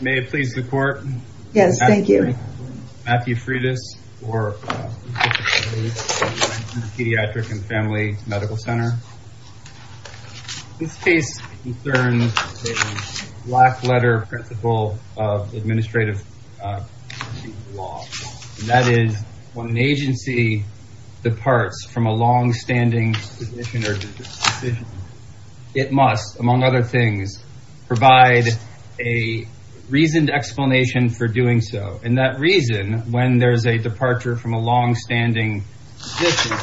May it please the court? Yes, thank you. Matthew Freitas for Pediatric and Family Medical Center. This case concerns a black-letter principle of administrative law. That is, when an agency departs from a long-standing decision, it must, among other things, provide a reasoned explanation for doing so. And that reason, when there's a departure from a long-standing decision,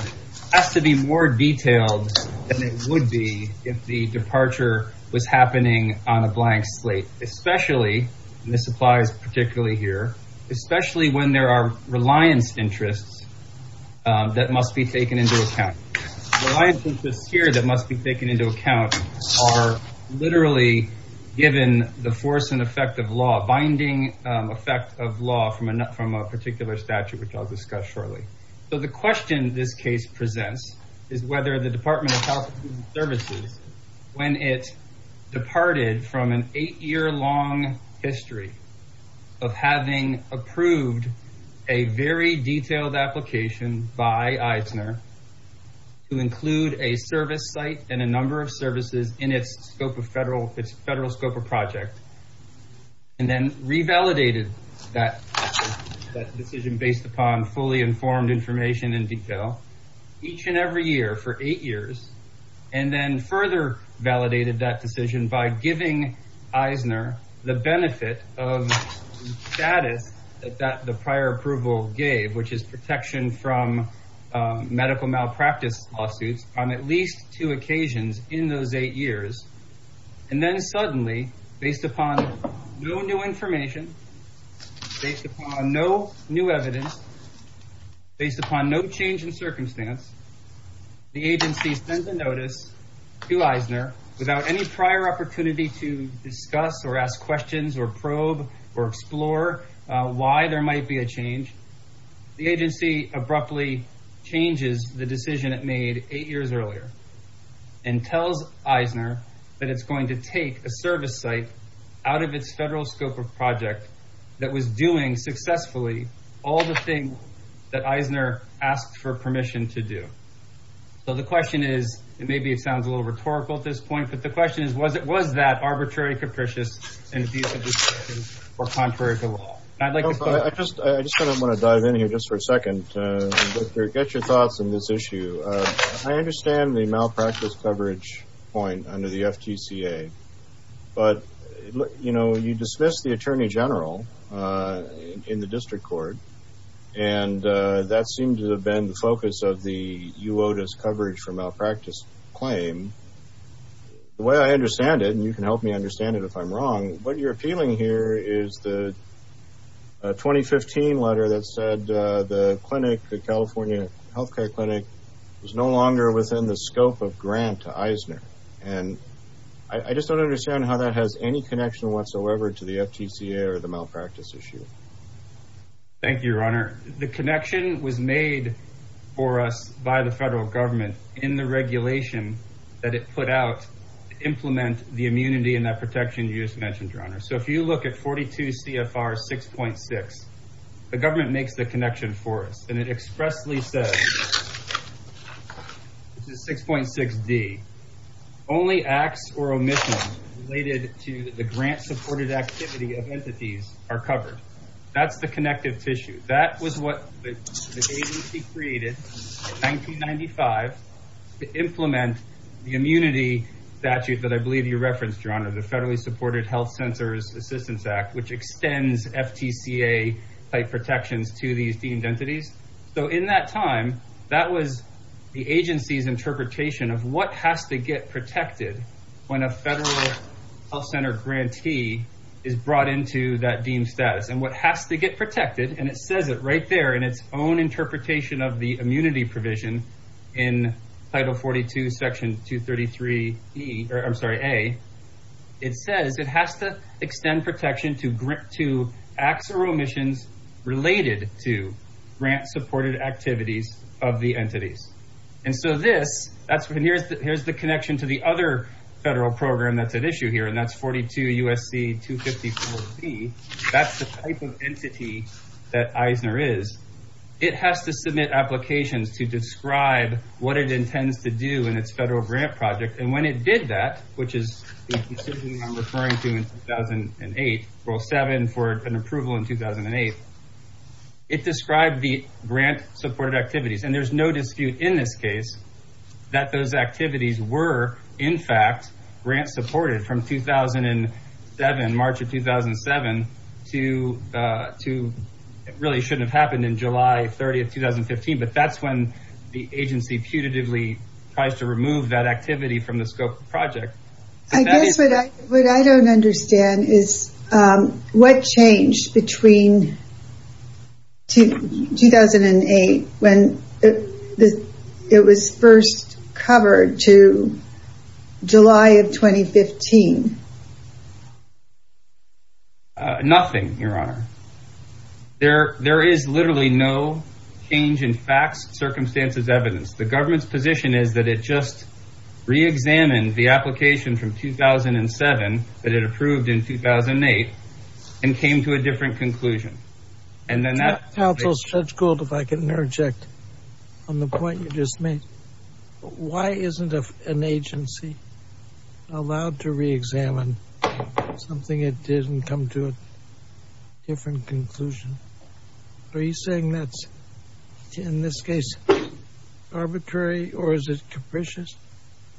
has to be more detailed than it would be if the departure was happening on a blank slate. Especially, and this applies particularly here, especially when there are reliance interests that must be taken into account. Reliance literally given the force and effect of law, binding effect of law from a particular statute, which I'll discuss shortly. So the question this case presents is whether the Department of Health and Human Services, when it departed from an eight-year long history of having approved a very detailed application by Eisner to include a service site and a number of federal scope of project, and then revalidated that decision based upon fully informed information in detail each and every year for eight years, and then further validated that decision by giving Eisner the benefit of the status that the prior approval gave, which is protection from medical malpractice lawsuits on at least two occasions in those eight years, and then suddenly based upon no new information, based upon no new evidence, based upon no change in circumstance, the agency sends a notice to Eisner without any prior opportunity to abruptly changes the decision it made eight years earlier, and tells Eisner that it's going to take a service site out of its federal scope of project that was doing successfully all the things that Eisner asked for permission to do. So the question is, and maybe it sounds a little rhetorical at this point, but the question is, was it was that arbitrary, capricious, or contrary to law? I just want to dive in here just for a second to get your thoughts on this issue. I understand the malpractice coverage point under the FTCA, but you know, you dismissed the attorney general in the district court, and that seemed to have been the focus of the UOTAS coverage for malpractice claim. The way I understand it, and you can help me understand it if I'm wrong, what you're appealing here is the 2015 letter that said the clinic, the California healthcare clinic, was no longer within the scope of grant to Eisner, and I just don't understand how that has any connection whatsoever to the FTCA or the malpractice issue. Thank you, your honor. The connection was made for us by the federal government in the regulation that it put out to implement the immunity and that protection you just mentioned, your honor. So if you look at 42 CFR 6.6, the government makes the connection for us, and it expressly says, this is 6.6d, only acts or omissions related to the grant-supported activity of entities are covered. That's the connective tissue. That was what the agency created in 1995 to implement the immunity statute that I believe you referenced, your honor, the Federally Supported Health Centers Assistance Act, which extends FTCA-type protections to these deemed entities. So in that time, that was the agency's interpretation of what has to get protected when a federal health center grantee is brought into that deemed status, and what has to get protected, and it says it right there in its own interpretation of the immunity provision in Title 42, Section 233a, it says it has to extend protection to acts or omissions related to grant-supported activities of the entities. And so this, here's the connection to the other federal program that's at issue here, that's 42 U.S.C. 254b, that's the type of entity that Eisner is. It has to submit applications to describe what it intends to do in its federal grant project, and when it did that, which is the decision I'm referring to in 2008, Rule 7 for an approval in 2008, it described the grant-supported activities, and there's no dispute in this case that those activities were, in fact, grant-supported from 2007, March of 2007, to really shouldn't have happened in July 30, 2015, but that's when the agency putatively tries to remove that activity from the scope of the project. I guess what I don't understand is what changed between 2008 when it was first covered to July of 2015. Nothing, Your Honor. There is literally no change in facts, circumstances, evidence. The government's position is that it just re-examined the application from 2007 that it approved in 2008 and came to a different conclusion. And then that's... If I can interject on the point you just made, why isn't an agency allowed to re-examine something it did and come to a different conclusion? Are you saying that's, in this case, arbitrary or is it capricious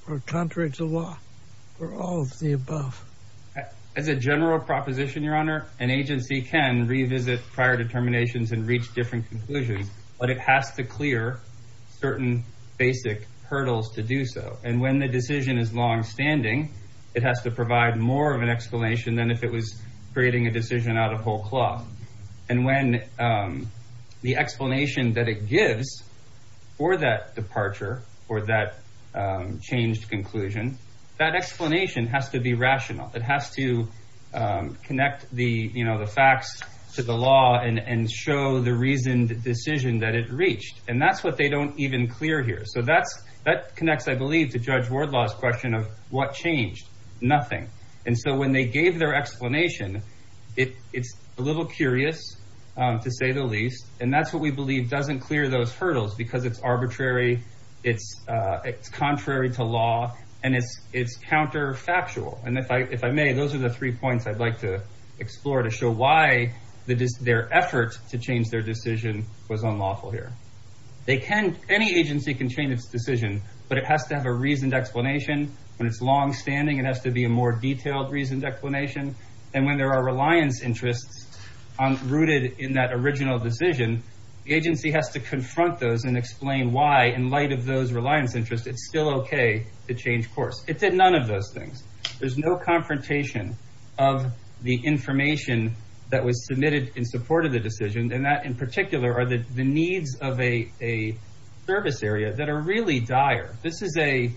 or contrary to law or all of the above? As a general proposition, Your Honor, an agency can revisit prior determinations and reach different conclusions, but it has to clear certain basic hurdles to do so. And when the decision is longstanding, it has to provide more of an explanation than if it was creating a decision out of whole cloth. And when the explanation that it gives for that departure or that changed conclusion, that explanation has to be rational. It has to connect the facts to the law and show the reasoned decision that it reached. And that's what they don't even clear here. So that connects, I believe, to Judge Wardlaw's question of what changed. Nothing. And so when they gave their explanation, it's a little curious, to say the least, and that's what we believe doesn't clear those hurdles because it's arbitrary, it's contrary to law, and it's counterfactual. And if I may, those are the three points I'd like to explore to show why their effort to change their decision was unlawful here. Any agency can change its decision, but it has to have a reasoned explanation. When it's longstanding, it has to be a more detailed reasoned explanation. And when there are reliance interests rooted in that original decision, the agency has to confront those and explain why, in light of those reliance interests, it's still okay to change things. There's no confrontation of the information that was submitted in support of the decision, and that, in particular, are the needs of a service area that are really dire. This is an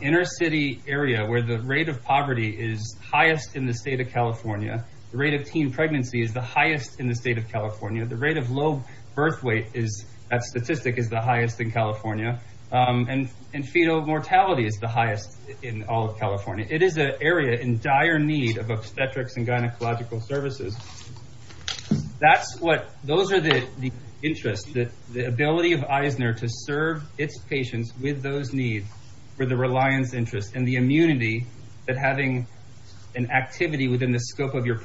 inner-city area where the rate of poverty is highest in the state of California, the rate of teen pregnancy is the highest in the state of California, the rate of low birth weight that statistic is the highest in California, and fetal mortality is the highest in all of California. It is an area in dire need of obstetrics and gynecological services. That's what, those are the interests, the ability of Eisner to serve its patients with those needs for the reliance interests and the immunity that having an activity within the scope of your is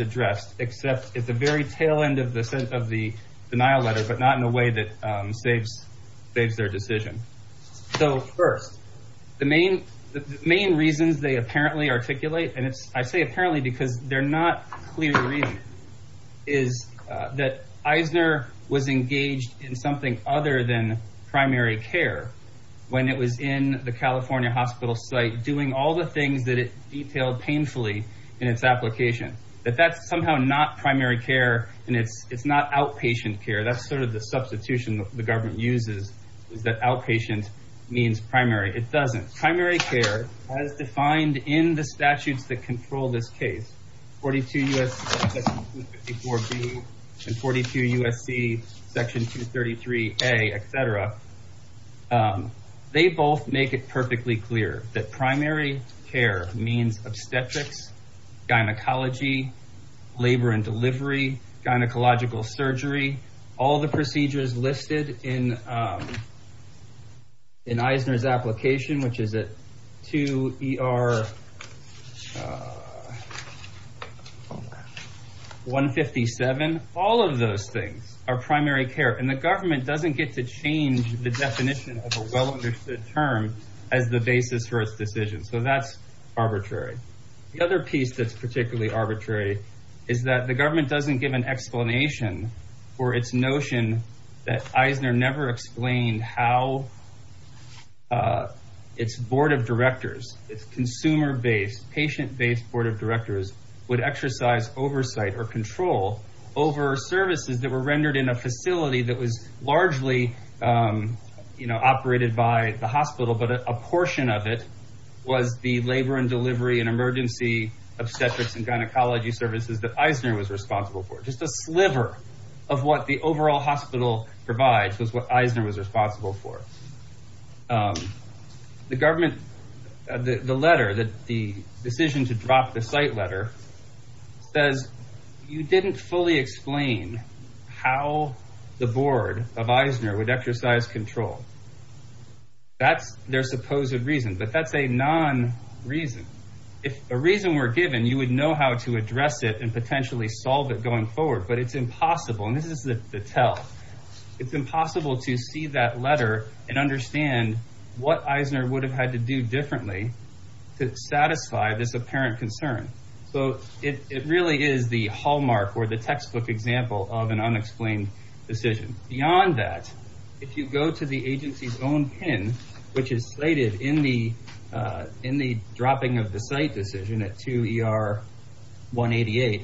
addressed, except at the very tail end of the denial letter, but not in a way that saves their decision. So, first, the main reasons they apparently articulate, and I say apparently because they're not clearly reasoned, is that Eisner was engaged in something other than primary care when it was in the California hospital site, doing all the things that it detailed painfully in its application. That that's somehow not primary care, and it's not outpatient care, that's sort of the substitution that the government uses, is that outpatient means primary. It doesn't. Primary care, as defined in the statutes that control this case, 42 U.S.C. Section 254B and 42 U.S.C. Section 233A, et cetera, they both make it perfectly clear that gynecology, labor and delivery, gynecological surgery, all the procedures listed in Eisner's application, which is at 2ER157, all of those things are primary care, and the government doesn't get to change the definition of a well-understood term as the basis for its decision. So, that's arbitrary. The other piece that's particularly arbitrary is that the government doesn't give an explanation for its notion that Eisner never explained how its board of directors, its consumer-based, patient-based board of directors, would exercise oversight or control over services that were rendered in a facility that was largely operated by the hospital, but a portion of it was the labor and delivery and emergency obstetrics and gynecology services that Eisner was responsible for. Just a sliver of what the overall hospital provides was what Eisner was responsible for. The government, the letter, the decision to drop the site letter, says you didn't fully explain how the board of Eisner would exercise control. That's their supposed reason, but that's a non-reason. If a reason were given, you would know how to address it and potentially solve it going forward, but it's impossible, and this is the tell, it's impossible to see that letter and understand what Eisner would have had to do differently to satisfy this apparent concern. It really is the hallmark or the textbook example of an unexplained decision. Beyond that, if you go to the agency's own pin, which is slated in the dropping of the site decision at 2ER-188,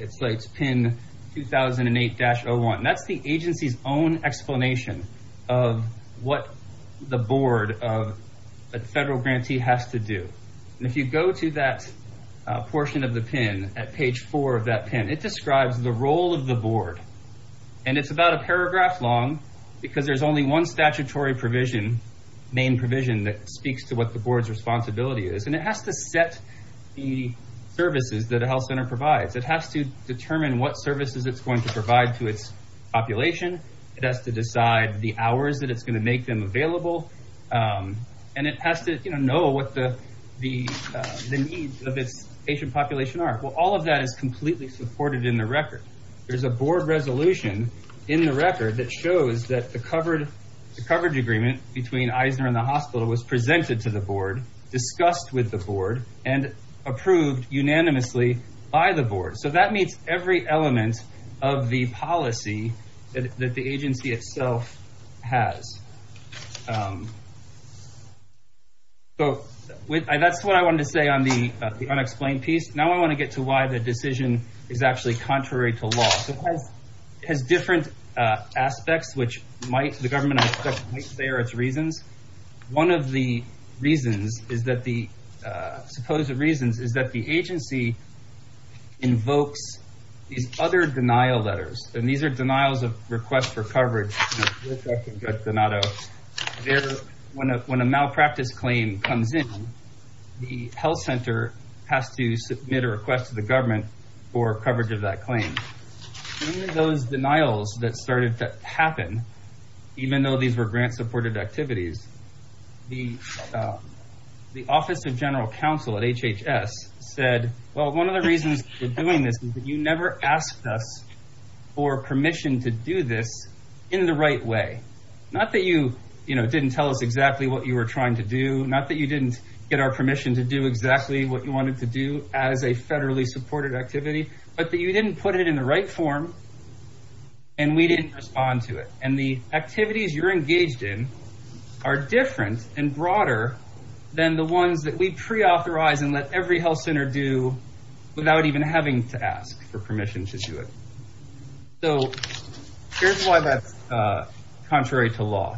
it slates pin 2008-01. That's the agency's own explanation of what the board of a federal pin is. It describes the role of the board. It's about a paragraph long because there's only one statutory provision, main provision, that speaks to what the board's responsibility is. It has to set the services that a health center provides. It has to determine what services it's going to provide to its population. It has to decide the hours that it's going to make them All of that is completely supported in the record. There's a board resolution in the record that shows that the coverage agreement between Eisner and the hospital was presented to the board, discussed with the board, and approved unanimously by the board. That meets every element of the policy that the agency itself has. That's what I wanted to say on the unexplained piece. Now I want to get to why the decision is actually contrary to law. It has different aspects, which the government might say are its reasons. One of the supposed reasons is that the agency invokes these other denial letters. These are denials of requests for coverage. When a malpractice claim comes in, the health center has to submit a request to the government for coverage of that claim. Those denials that started to happen, even though these were grant supported activities, the office of general counsel at HHS said, one of the reasons for never asking for permission to do this in the right way. Not that you didn't tell us exactly what you were trying to do, not that you didn't get our permission to do exactly what you wanted to do as a federally supported activity, but that you didn't put it in the right form and we didn't respond to it. The activities you're engaged in are different and broader than the ones that we preauthorize and let every health center do without even having to ask for permission to do it. Here's why that's contrary to law.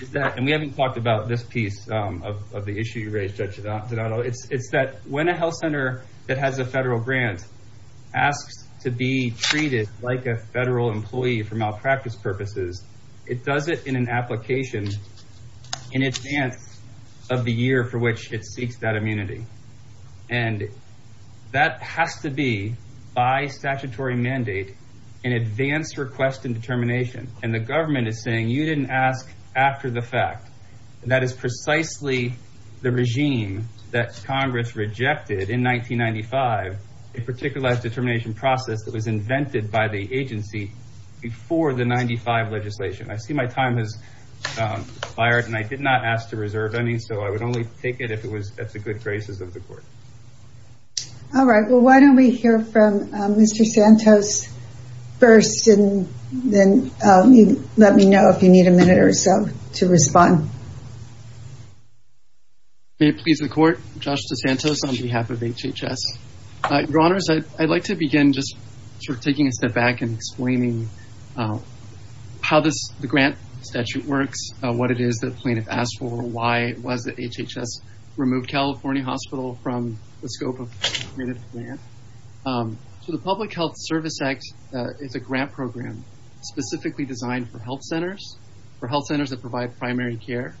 We haven't talked about this piece of the issue you raised, Judge Donato. It's that when a health center that has a federal grant asks to be treated like a federal employee for malpractice purposes, it does it in an application in advance of the year for which it seeks that immunity. That has to be, by statutory mandate, an advance request in determination. The government is saying you didn't ask after the fact. That is precisely the regime that Congress rejected in 1995, a particularized determination process that was invented by the agency before the 1995 legislation. I see my time has expired and I did not ask to reserve any, so I would only take it if it was at the good graces of the court. Why don't we hear from Mr. Santos first and then let me know if you need a minute or so to respond. May it please the court, I'm Josh DeSantos on behalf of HHS. Your Honors, I'd like to begin by taking a step back and explaining how the grant statute works, what it is that plaintiff asked for, why HHS removed California Hospital from the scope of the grant. The Public Health Service Act is a grant program specifically designed for health centers that provide primary care.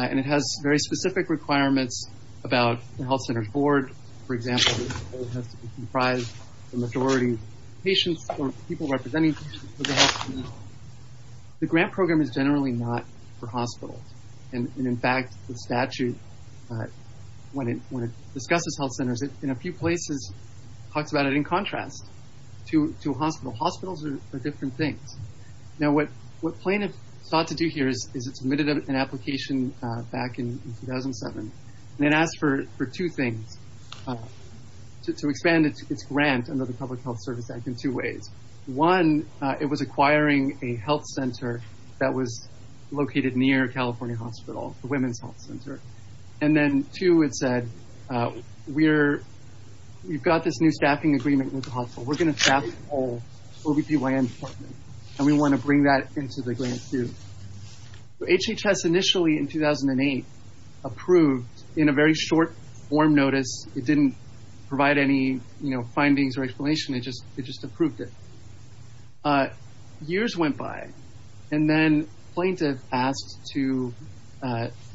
It has very specific requirements about the health center board. For example, it has to comprise the majority of patients or people representing patients. The grant program is generally not for hospitals. In fact, the statute, when it discusses health centers in a few places, talks about it in contrast to a hospital. Hospitals are different things. What plaintiff sought to do here is submit an application back in 2007. It asked for two things. To expand its grant under the Public Health Service Act in two ways. One, it was acquiring a health center that was located near California Hospital, the women's health center. Then two, it said, we've got this new staffing agreement with the hospital. We're going to staff the whole OB-GYN department and we want to bring that into the grant too. HHS initially, in 2008, approved in a very short form notice. It didn't provide any findings or explanation. It just approved it. Years went by and then plaintiff asked to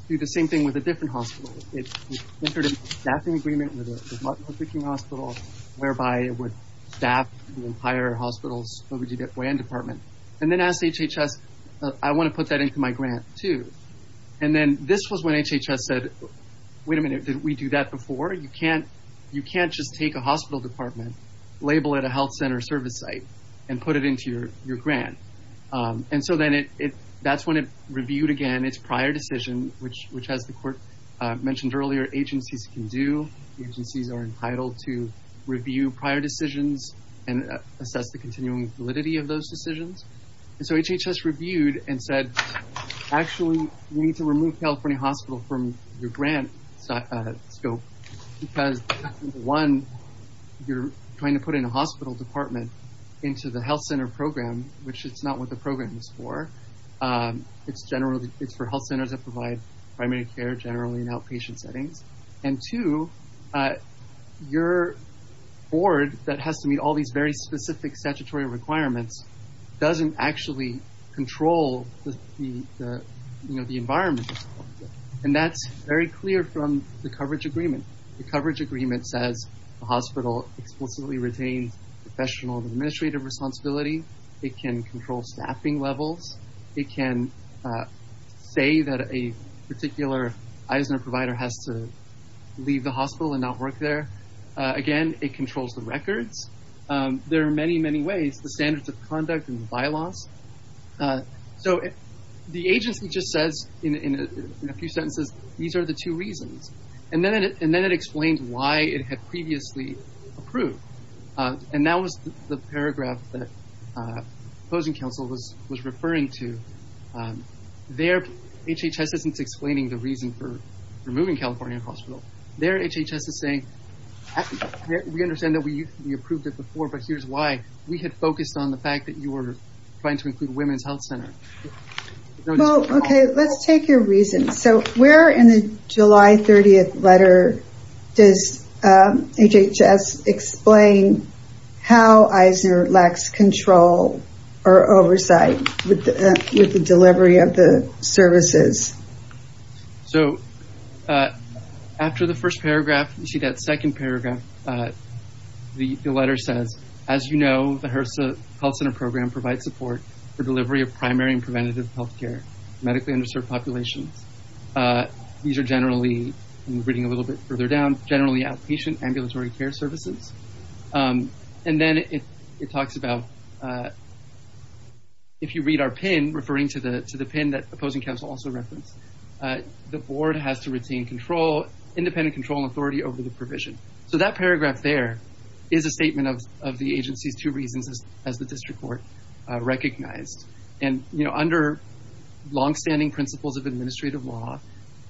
do the same thing with a different hospital. It entered a staffing agreement with hospital's OB-GYN department. Then asked HHS, I want to put that into my grant too. This was when HHS said, wait a minute, did we do that before? You can't just take a hospital department, label it a health center service site, and put it into your grant. That's when it reviewed again its prior decision, which as the court mentioned earlier, agencies can do. Agencies are entitled to review prior decisions and assess the continuing validity of those decisions. HHS reviewed and said, actually, we need to remove California Hospital from your grant scope because one, you're trying to put in a hospital department into the health center program, which is not what the program is for. It's generally for health centers that provide primary care generally in outpatient settings. Two, your board that has to meet all these very specific statutory requirements doesn't actually control the environment. That's very clear from the coverage agreement. The coverage agreement says the hospital explicitly retains professional administrative responsibility. It can control staffing levels. It can say that a particular Eisner provider has to leave the hospital and not work there. Again, it controls the records. There are many, many ways. The standards of conduct and bylaws. The agency just says in a few sentences, these are the two reasons. Then it explains why it had approved. That was the paragraph that opposing counsel was referring to. Their HHS isn't explaining the reason for removing California Hospital. Their HHS is saying, we understand that we approved it before, but here's why. We had focused on the fact that you were trying to include Women's Health Center. Let's take your reason. Where in the July 30th letter does HHS explain how Eisner lacks control or oversight with the delivery of the services? After the first paragraph, you see that second paragraph. The letter says, as you know, HRSA health center program provides support for delivery of primary and preventative healthcare medically underserved populations. These are generally, I'm reading a little bit further down, outpatient ambulatory care services. Then it talks about, if you read our pin, referring to the pin that opposing counsel also referenced, the board has to retain control, independent control and authority over the provision. That paragraph there is a statement of the agency's two reasons as the district court recognized. Under longstanding principles of administrative law,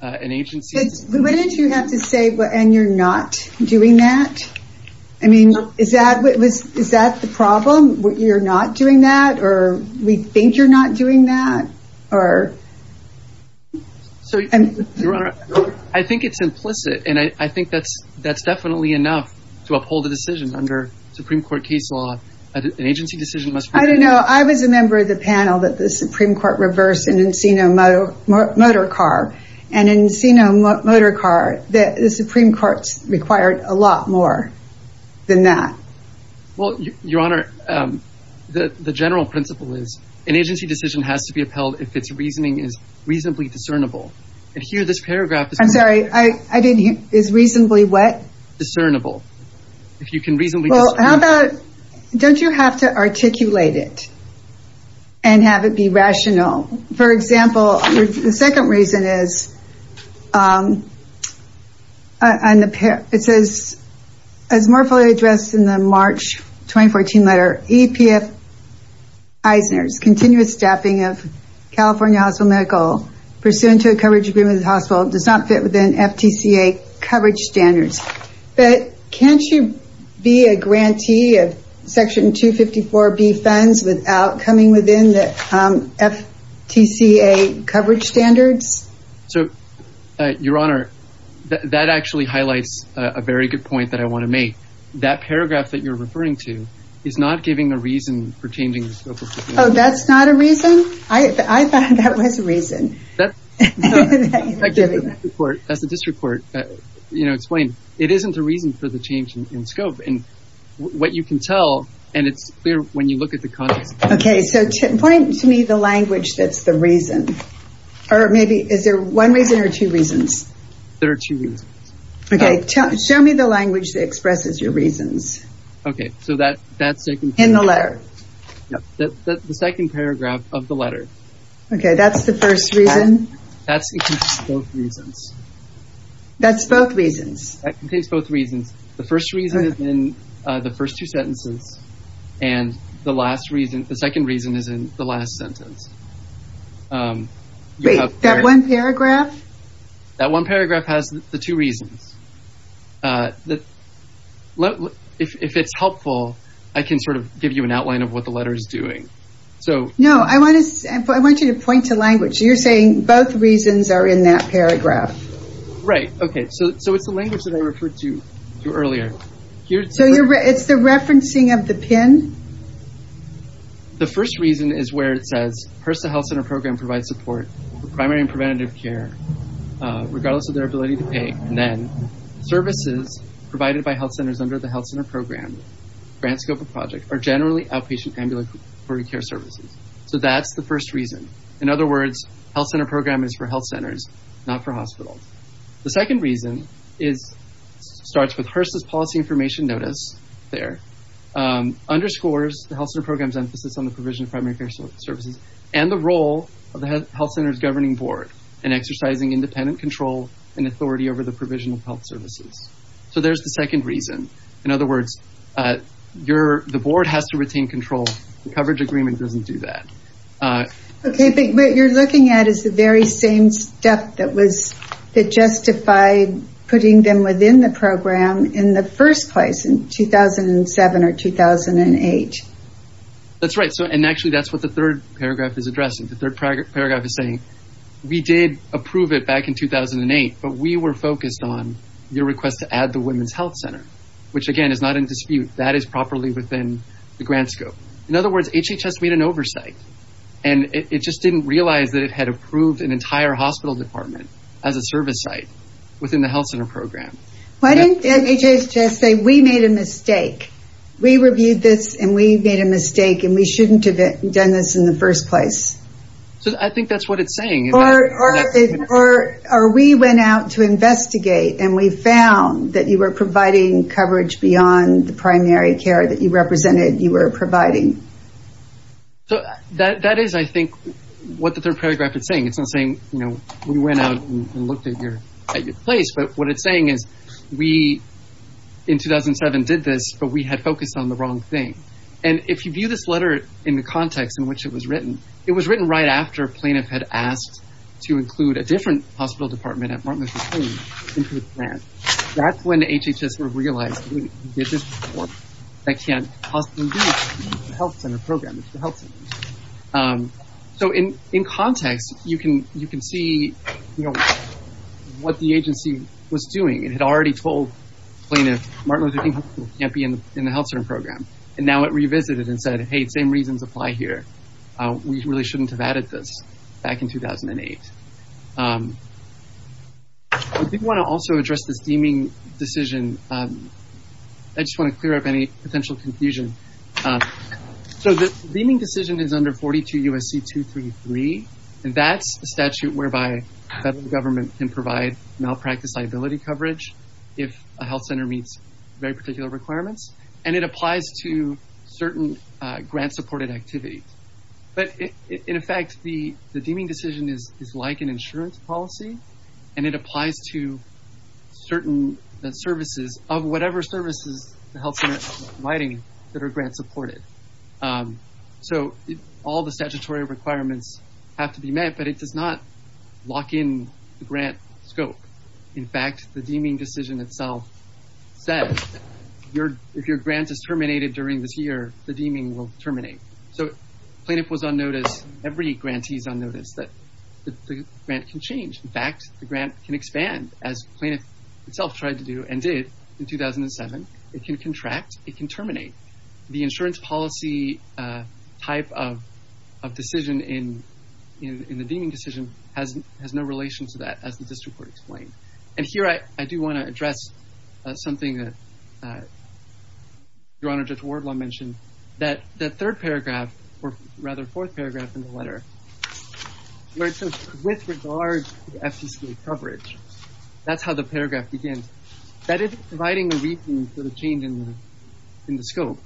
an agency... Wouldn't you have to say, and you're not doing that? Is that the problem? You're not doing that or we think you're not doing that? Your Honor, I think it's implicit and I think that's definitely enough to uphold a decision under Supreme Court case law. An agency decision must... I don't know. I was a member of the panel that the Supreme Court reversed an Encino motor car. An Encino motor car, the Supreme Court's required a lot more than that. Your Honor, the general principle is an agency decision has to be upheld if its reasoning is reasonably discernible. Here, this paragraph... I'm sorry, I didn't hear. Is reasonably what? Discernible. If you can reasonably... Don't you have to articulate it and have it be rational? For example, the second reason is, and it says, as more fully addressed in the March 2014 letter, EPF Eisner's continuous staffing of California Hospital Medical pursuant to a coverage agreement with the hospital does not fit within FTCA coverage standards. But can't you be a grantee of Section 254B funds without coming within the FTCA coverage standards? Your Honor, that actually highlights a very good point that I want to make. That paragraph that you're referring to is not giving a reason for changing the scope of... That's not a reason? I thought that was a reason. As the district court explained, it isn't a reason for the change in scope. What you can tell, and it's clear when you look at the context... Point to me the language that's the reason. Is there one reason or two reasons? There are two reasons. Show me the language that expresses your reasons. In the letter. The second paragraph of the letter. That's the first reason? That's in both reasons. That's both reasons? That contains both reasons. The first reason is in the first two sentences and the second reason is in the last sentence. Wait, that one paragraph? That one paragraph has the two reasons. If it's helpful, I can give you an outline of what the letter is doing. No, I want you to point to language. You're saying both reasons are in that paragraph. Right. It's the language that I referred to earlier. It's the referencing of the pin? The first reason is where it says HRSA health center program provides support for primary and preventative care regardless of their ability to pay. Services provided by health centers under the health center program grant scope of project are generally outpatient ambulatory care services. That's the first reason. In other words, health center program is for health centers, not for hospitals. The second reason starts with HRSA's policy information notice. Underscores the health center program's emphasis on the provision of primary care services and the role of the health center's governing board in exercising independent control and authority over the provision of health services. There's the second reason. In other words, the board has to retain control. The coverage agreement doesn't do that. What you're looking at is the very same stuff that justified putting them within the program in the first place in 2007 or 2008. That's right. Actually, that's what the third paragraph is addressing. The third paragraph is saying we did approve it back in 2008, but we were focused on your request to add the women's health center, which again is not in dispute. That is properly within the grant scope. In other words, HHS made an oversight. It just didn't realize that it had approved an entire hospital department as a service site within the health center program. Why didn't HHS say we made a mistake? We reviewed this and we made a mistake and we shouldn't have done this in the first place? I think that's what it's saying. Or we went out to investigate and we found that you were providing coverage beyond the primary care that you represented you were providing. That is, I think, what the third paragraph is saying. It's not saying we went out and looked at your place. What it's saying is we, in 2007, did this, but we had focused on the wrong thing. If you view this letter in the context in which it was written, it was written right after a when HHS realized that they can't possibly do this in the health center program. So in context, you can see what the agency was doing. It had already told plaintiffs, Martin Luther King Hospital can't be in the health center program. Now it revisited and said, hey, the same reasons apply here. We really shouldn't have added this back in 2008. I did want to also address this deeming decision. I just want to clear up any potential confusion. So the deeming decision is under 42 U.S.C. 233, and that's a statute whereby the federal government can provide malpractice liability coverage if a health center meets very particular requirements, and it applies to certain grant supported activities. In effect, the deeming decision is like an insurance policy, and it applies to certain services of whatever services the health center is providing that are grant supported. So all the statutory requirements have to be met, but it does not lock in the grant scope. In fact, the deeming decision itself said if your grant is terminated during this year, the deeming will terminate. So every grantee is on notice that the grant can change. In fact, the grant can expand, as the plaintiff itself tried to do and did in 2007. It can contract. It can terminate. The insurance policy type of decision in the deeming decision has no relation to that, as the district court explained. And here I do want to address something that Your Honor, Judge Wardlaw mentioned. That third paragraph, or rather fourth paragraph in the letter, where it says with regard to FTCA coverage. That's how the paragraph begins. That is providing a reason for the change in the scope.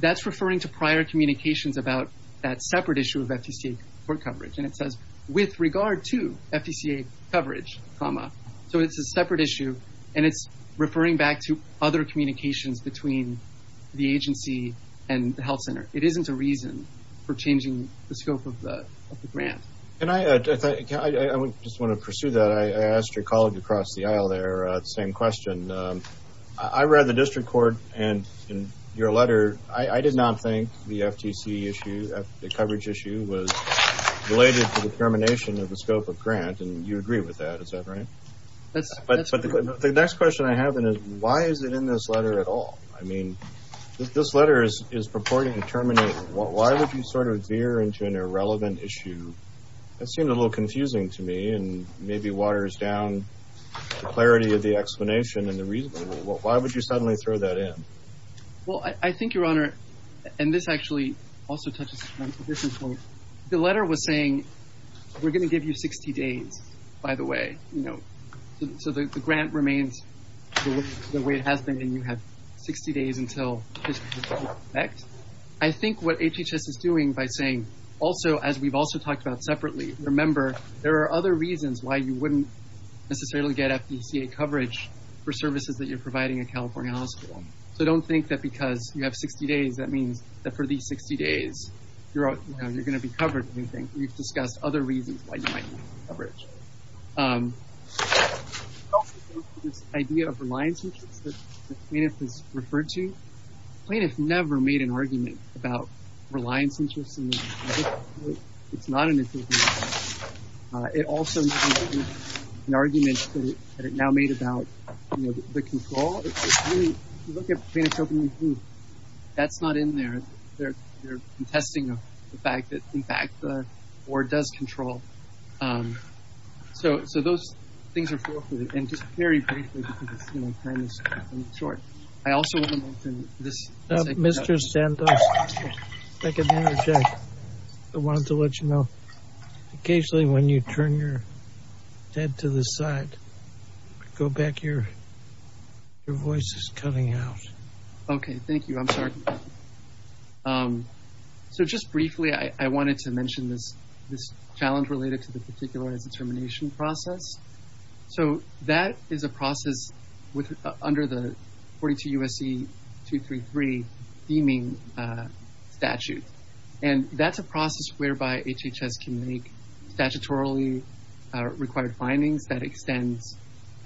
That's referring to prior communications about that separate issue of FTCA court coverage, and it says with regard to FTCA coverage, comma. So it's a separate issue, and it's referring back to other communications between the agency and the health center. It isn't a reason for changing the scope of the grant. And I just want to pursue that. I asked your colleague across the aisle there the same question. I read the district court, and in your letter, I did not think the FTC issue, the coverage issue, was related to the termination of the scope of grant, and you agree with that. Is that right? But the next question I have is, why is it in this letter at all? I mean, this letter is purporting to terminate. Why would you sort of veer into an irrelevant issue? That seemed a little confusing to me, and maybe waters down the clarity of the explanation and the reason. Why would you suddenly throw that in? Well, I think, Your Honor, and this actually also touches on a different point. The letter was saying, we're going to give you 60 days, by the way. So the grant remains the way it has been, and you have 60 days until next. I think what HHS is doing by saying, also, as we've also talked about separately, remember, there are other reasons why you wouldn't necessarily get FDCA coverage for services that you're providing at California Hospital. So don't think that because you have 60 days, that means that for these 60 days, you're going to be covered. We've discussed other reasons why you might need coverage. This idea of reliance, which is what the plaintiff has referred to, plaintiff never made an argument about reliance interests. It's not an issue. It also is an argument that it now made about the control. If you look at plaintiff's opening that's not in there. They're contesting the fact that, in fact, the board does control. So those things are forfeited. And just very briefly, because time is short, I also want to mention this. Mr. Santos, I wanted to let you know, occasionally when you turn your head to the side, go back. Your voice is cutting out. Okay. Thank you. I'm sorry. So just briefly, I wanted to mention this challenge related to the particularized determination process. So that is a process under the 42 U.S.C. 233 theming statute. And that's a process whereby HHS can make statutorily required findings that extends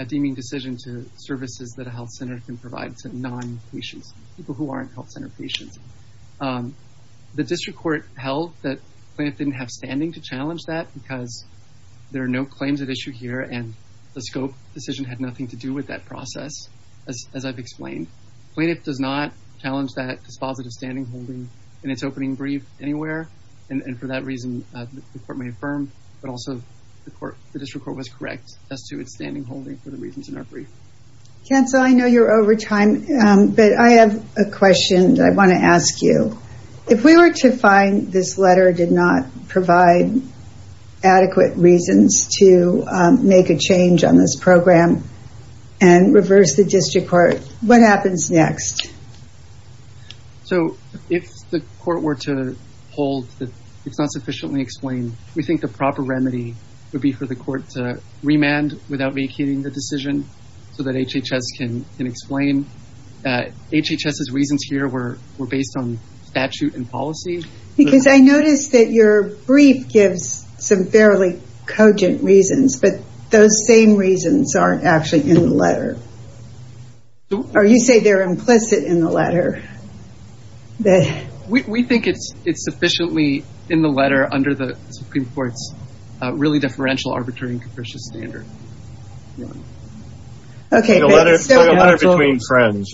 a deeming decision to services that a health center can provide to non-patients, people who aren't health center patients. The district court held that plaintiff didn't have standing to challenge that because there are no claims at issue here and the scope decision had nothing to do with that process, as I've explained. Plaintiff does not challenge that dispositive standing holding in its opening brief anywhere. And for that reason, the court may affirm, but also the district court was correct as to its standing holding for the reasons in our brief. Cancel. I know you're over time, but I have a question that I want to ask you. If we were to find this letter did not provide adequate reasons to make a change on this program and reverse the district court, what happens next? So if the court were to hold that it's not sufficiently explained, we think the proper remedy would be for the court to remand without vacating the decision so that HHS can explain. HHS's reasons here were based on statute and policy. Because I noticed that your brief gives some fairly cogent reasons, but those same reasons aren't actually in the letter. Or you say they're implicit in the letter. We think it's sufficiently in the letter under the Supreme Court's really deferential arbitrary and capricious standard. The letter between friends.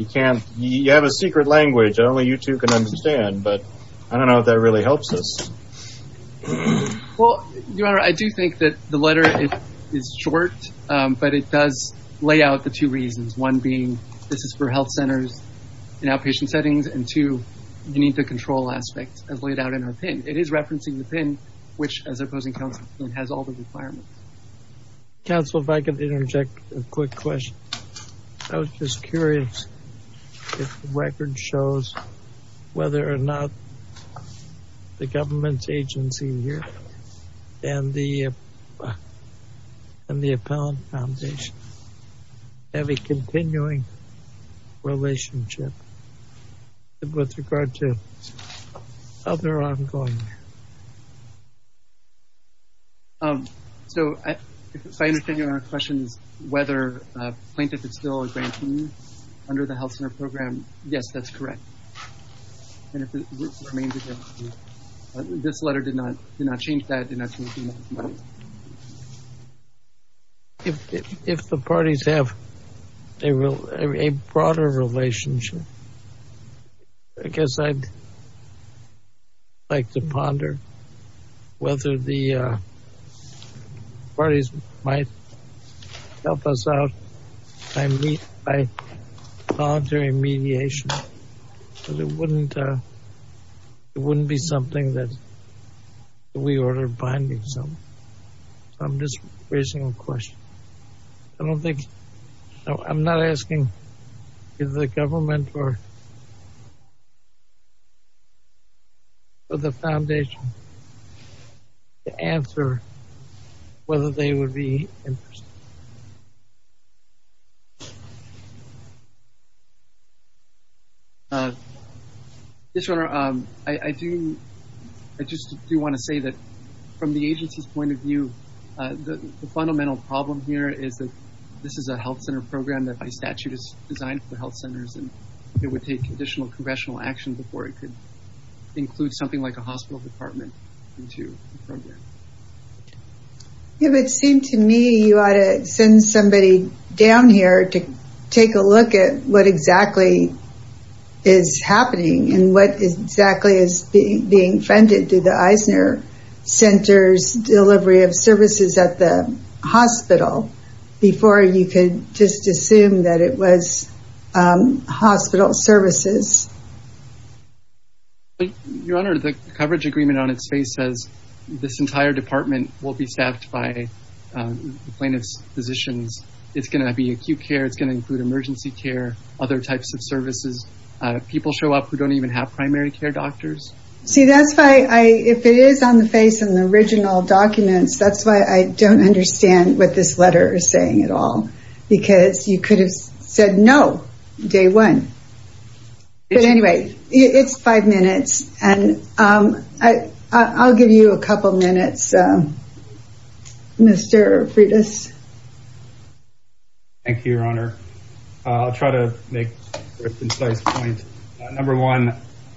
You have a secret language that only you two can understand, but I don't know if that really helps us. Well, Your Honor, I do think that the letter is short, but it does lay out the two reasons. One being this is for health centers in outpatient settings, and two, you need the control aspect as laid out in our PIN. It is referencing the PIN, which as opposing counsel has all the requirements. Counsel, if I could interject a quick question. I was just curious if the record shows whether or not the government agency here and the appellate foundation have a continuing relationship with regard to other ongoing. So, if I understand your questions, whether plaintiff is still a grantee under the health center program. Yes, that's correct. This letter did not change that. If the parties have a broader relationship, I guess I'd like to ponder whether the parties might help us out by voluntary mediation. It wouldn't be something that we order binding. So, I'm just raising a question. I don't think I'm not asking if the government or the foundation to answer whether they would be interested. Yes, Your Honor. I just do want to say that from the agency's point of view, the fundamental problem here is that this is a health center program that by statute is designed for health centers and it would take additional congressional action before it could include something like a hospital department into the program. It would seem to me you ought to send somebody down here to take a look at what exactly is happening and what exactly is being funded to the Eisner Center's delivery of services at the hospital before you could just assume that it was hospital services. Your Honor, the coverage agreement on its face says this entire department will be staffed by the plaintiff's physicians. It's going to be acute care. It's going to include emergency care, other types of services. People show up who don't even have primary care doctors. See, that's why if it is on the face in the original documents, that's why I don't understand what this letter is saying at all because you could have said no day one. But anyway, it's five minutes and I'll give you a couple minutes, Mr. Freitas. Thank you, Your Honor. I'll try to make a concise point. Number one,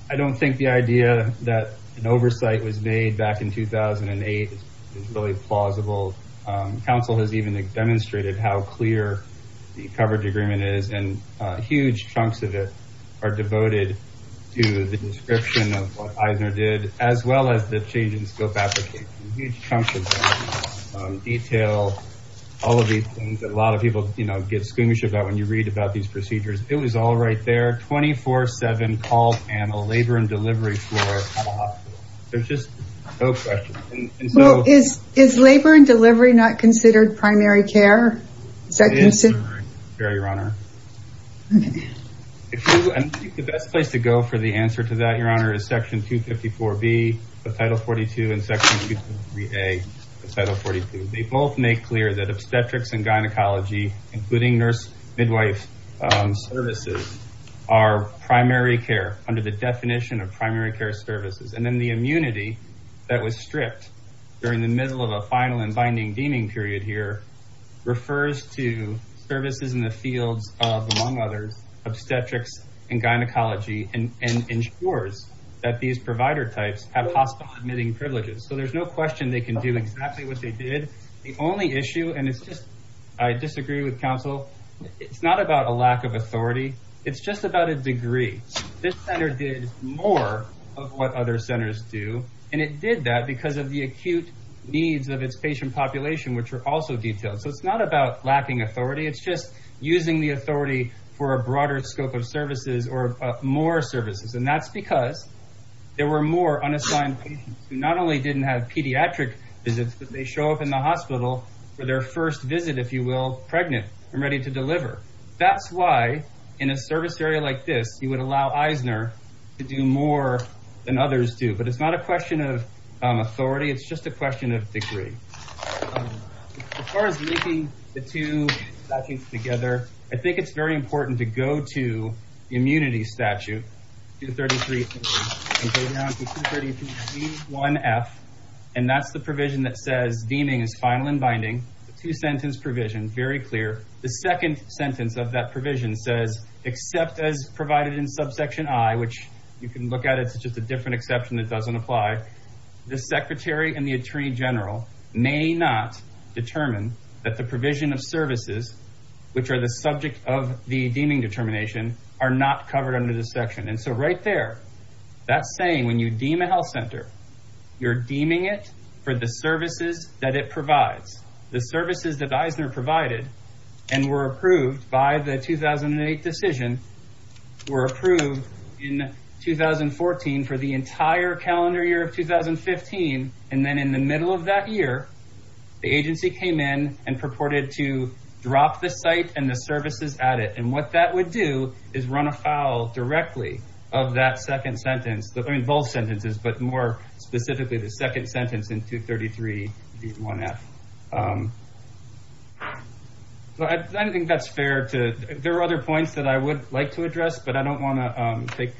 I don't think the idea that an oversight was made back in 2008 is really plausible. Council has even demonstrated how clear the coverage agreement is and huge chunks of it are devoted to the description of what Eisner did as well as the change in scope application. Huge chunks of it. Detail, all of these things that a lot of people get skoomish about when you read about these procedures. It was all right there 24-7 call panel, labor and delivery for a hospital. There's just no question. Is labor and delivery not considered primary care? It is primary care, Your Honor. I think the best place to go for the answer to that, Your Honor, is section 254B of title 42 and section 253A of title 42. They both make clear that obstetrics and gynecology, including nurse midwife services, are primary care under the definition of primary care services. And then the immunity that was stripped during the middle of a final and binding deeming period here refers to services in the fields of, among others, obstetrics and gynecology and ensures that these provider types have hospital admitting privileges. So there's no question they can do exactly what they did. The only issue, and it's just, I disagree with counsel, it's not about a lack of authority. It's just about a degree. This center did more of what other centers do and it did that because of the acute needs of its patient population, which are also detailed. So it's not about lacking authority. It's just using the authority for a more services. And that's because there were more unassigned patients who not only didn't have pediatric visits, but they show up in the hospital for their first visit, if you will, pregnant and ready to deliver. That's why in a service area like this, you would allow Eisner to do more than others do. But it's not a question of authority. It's just a question of degree. As far as linking two statutes together, I think it's very important to go to the immunity statute, 233C and go down to 233C1F. And that's the provision that says deeming is final and binding. Two sentence provision, very clear. The second sentence of that provision says, except as provided in subsection I, which you can look at, it's just a different exception that doesn't apply. The secretary and the attorney general may not determine that the provision of services, which are the subject of the deeming determination, are not covered under this section. And so right there, that's saying when you deem a health center, you're deeming it for the services that it provides. The services that Eisner provided and were approved by the 2008 decision were approved in 2014 for the entire calendar year of 2015. And then in the middle of that year, the agency came in and purported to drop the site and the services at it. And what that would do is run afoul directly of that second sentence, both sentences, but more specifically the second sentence in 233C1F. I don't think that's fair. There are other points that I would like to address, but I don't want to take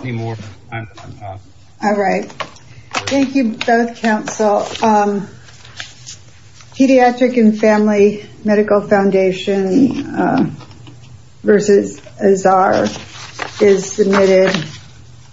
any more. All right. Thank you both, counsel. Pediatric and Family Medical Foundation versus Azar is submitted.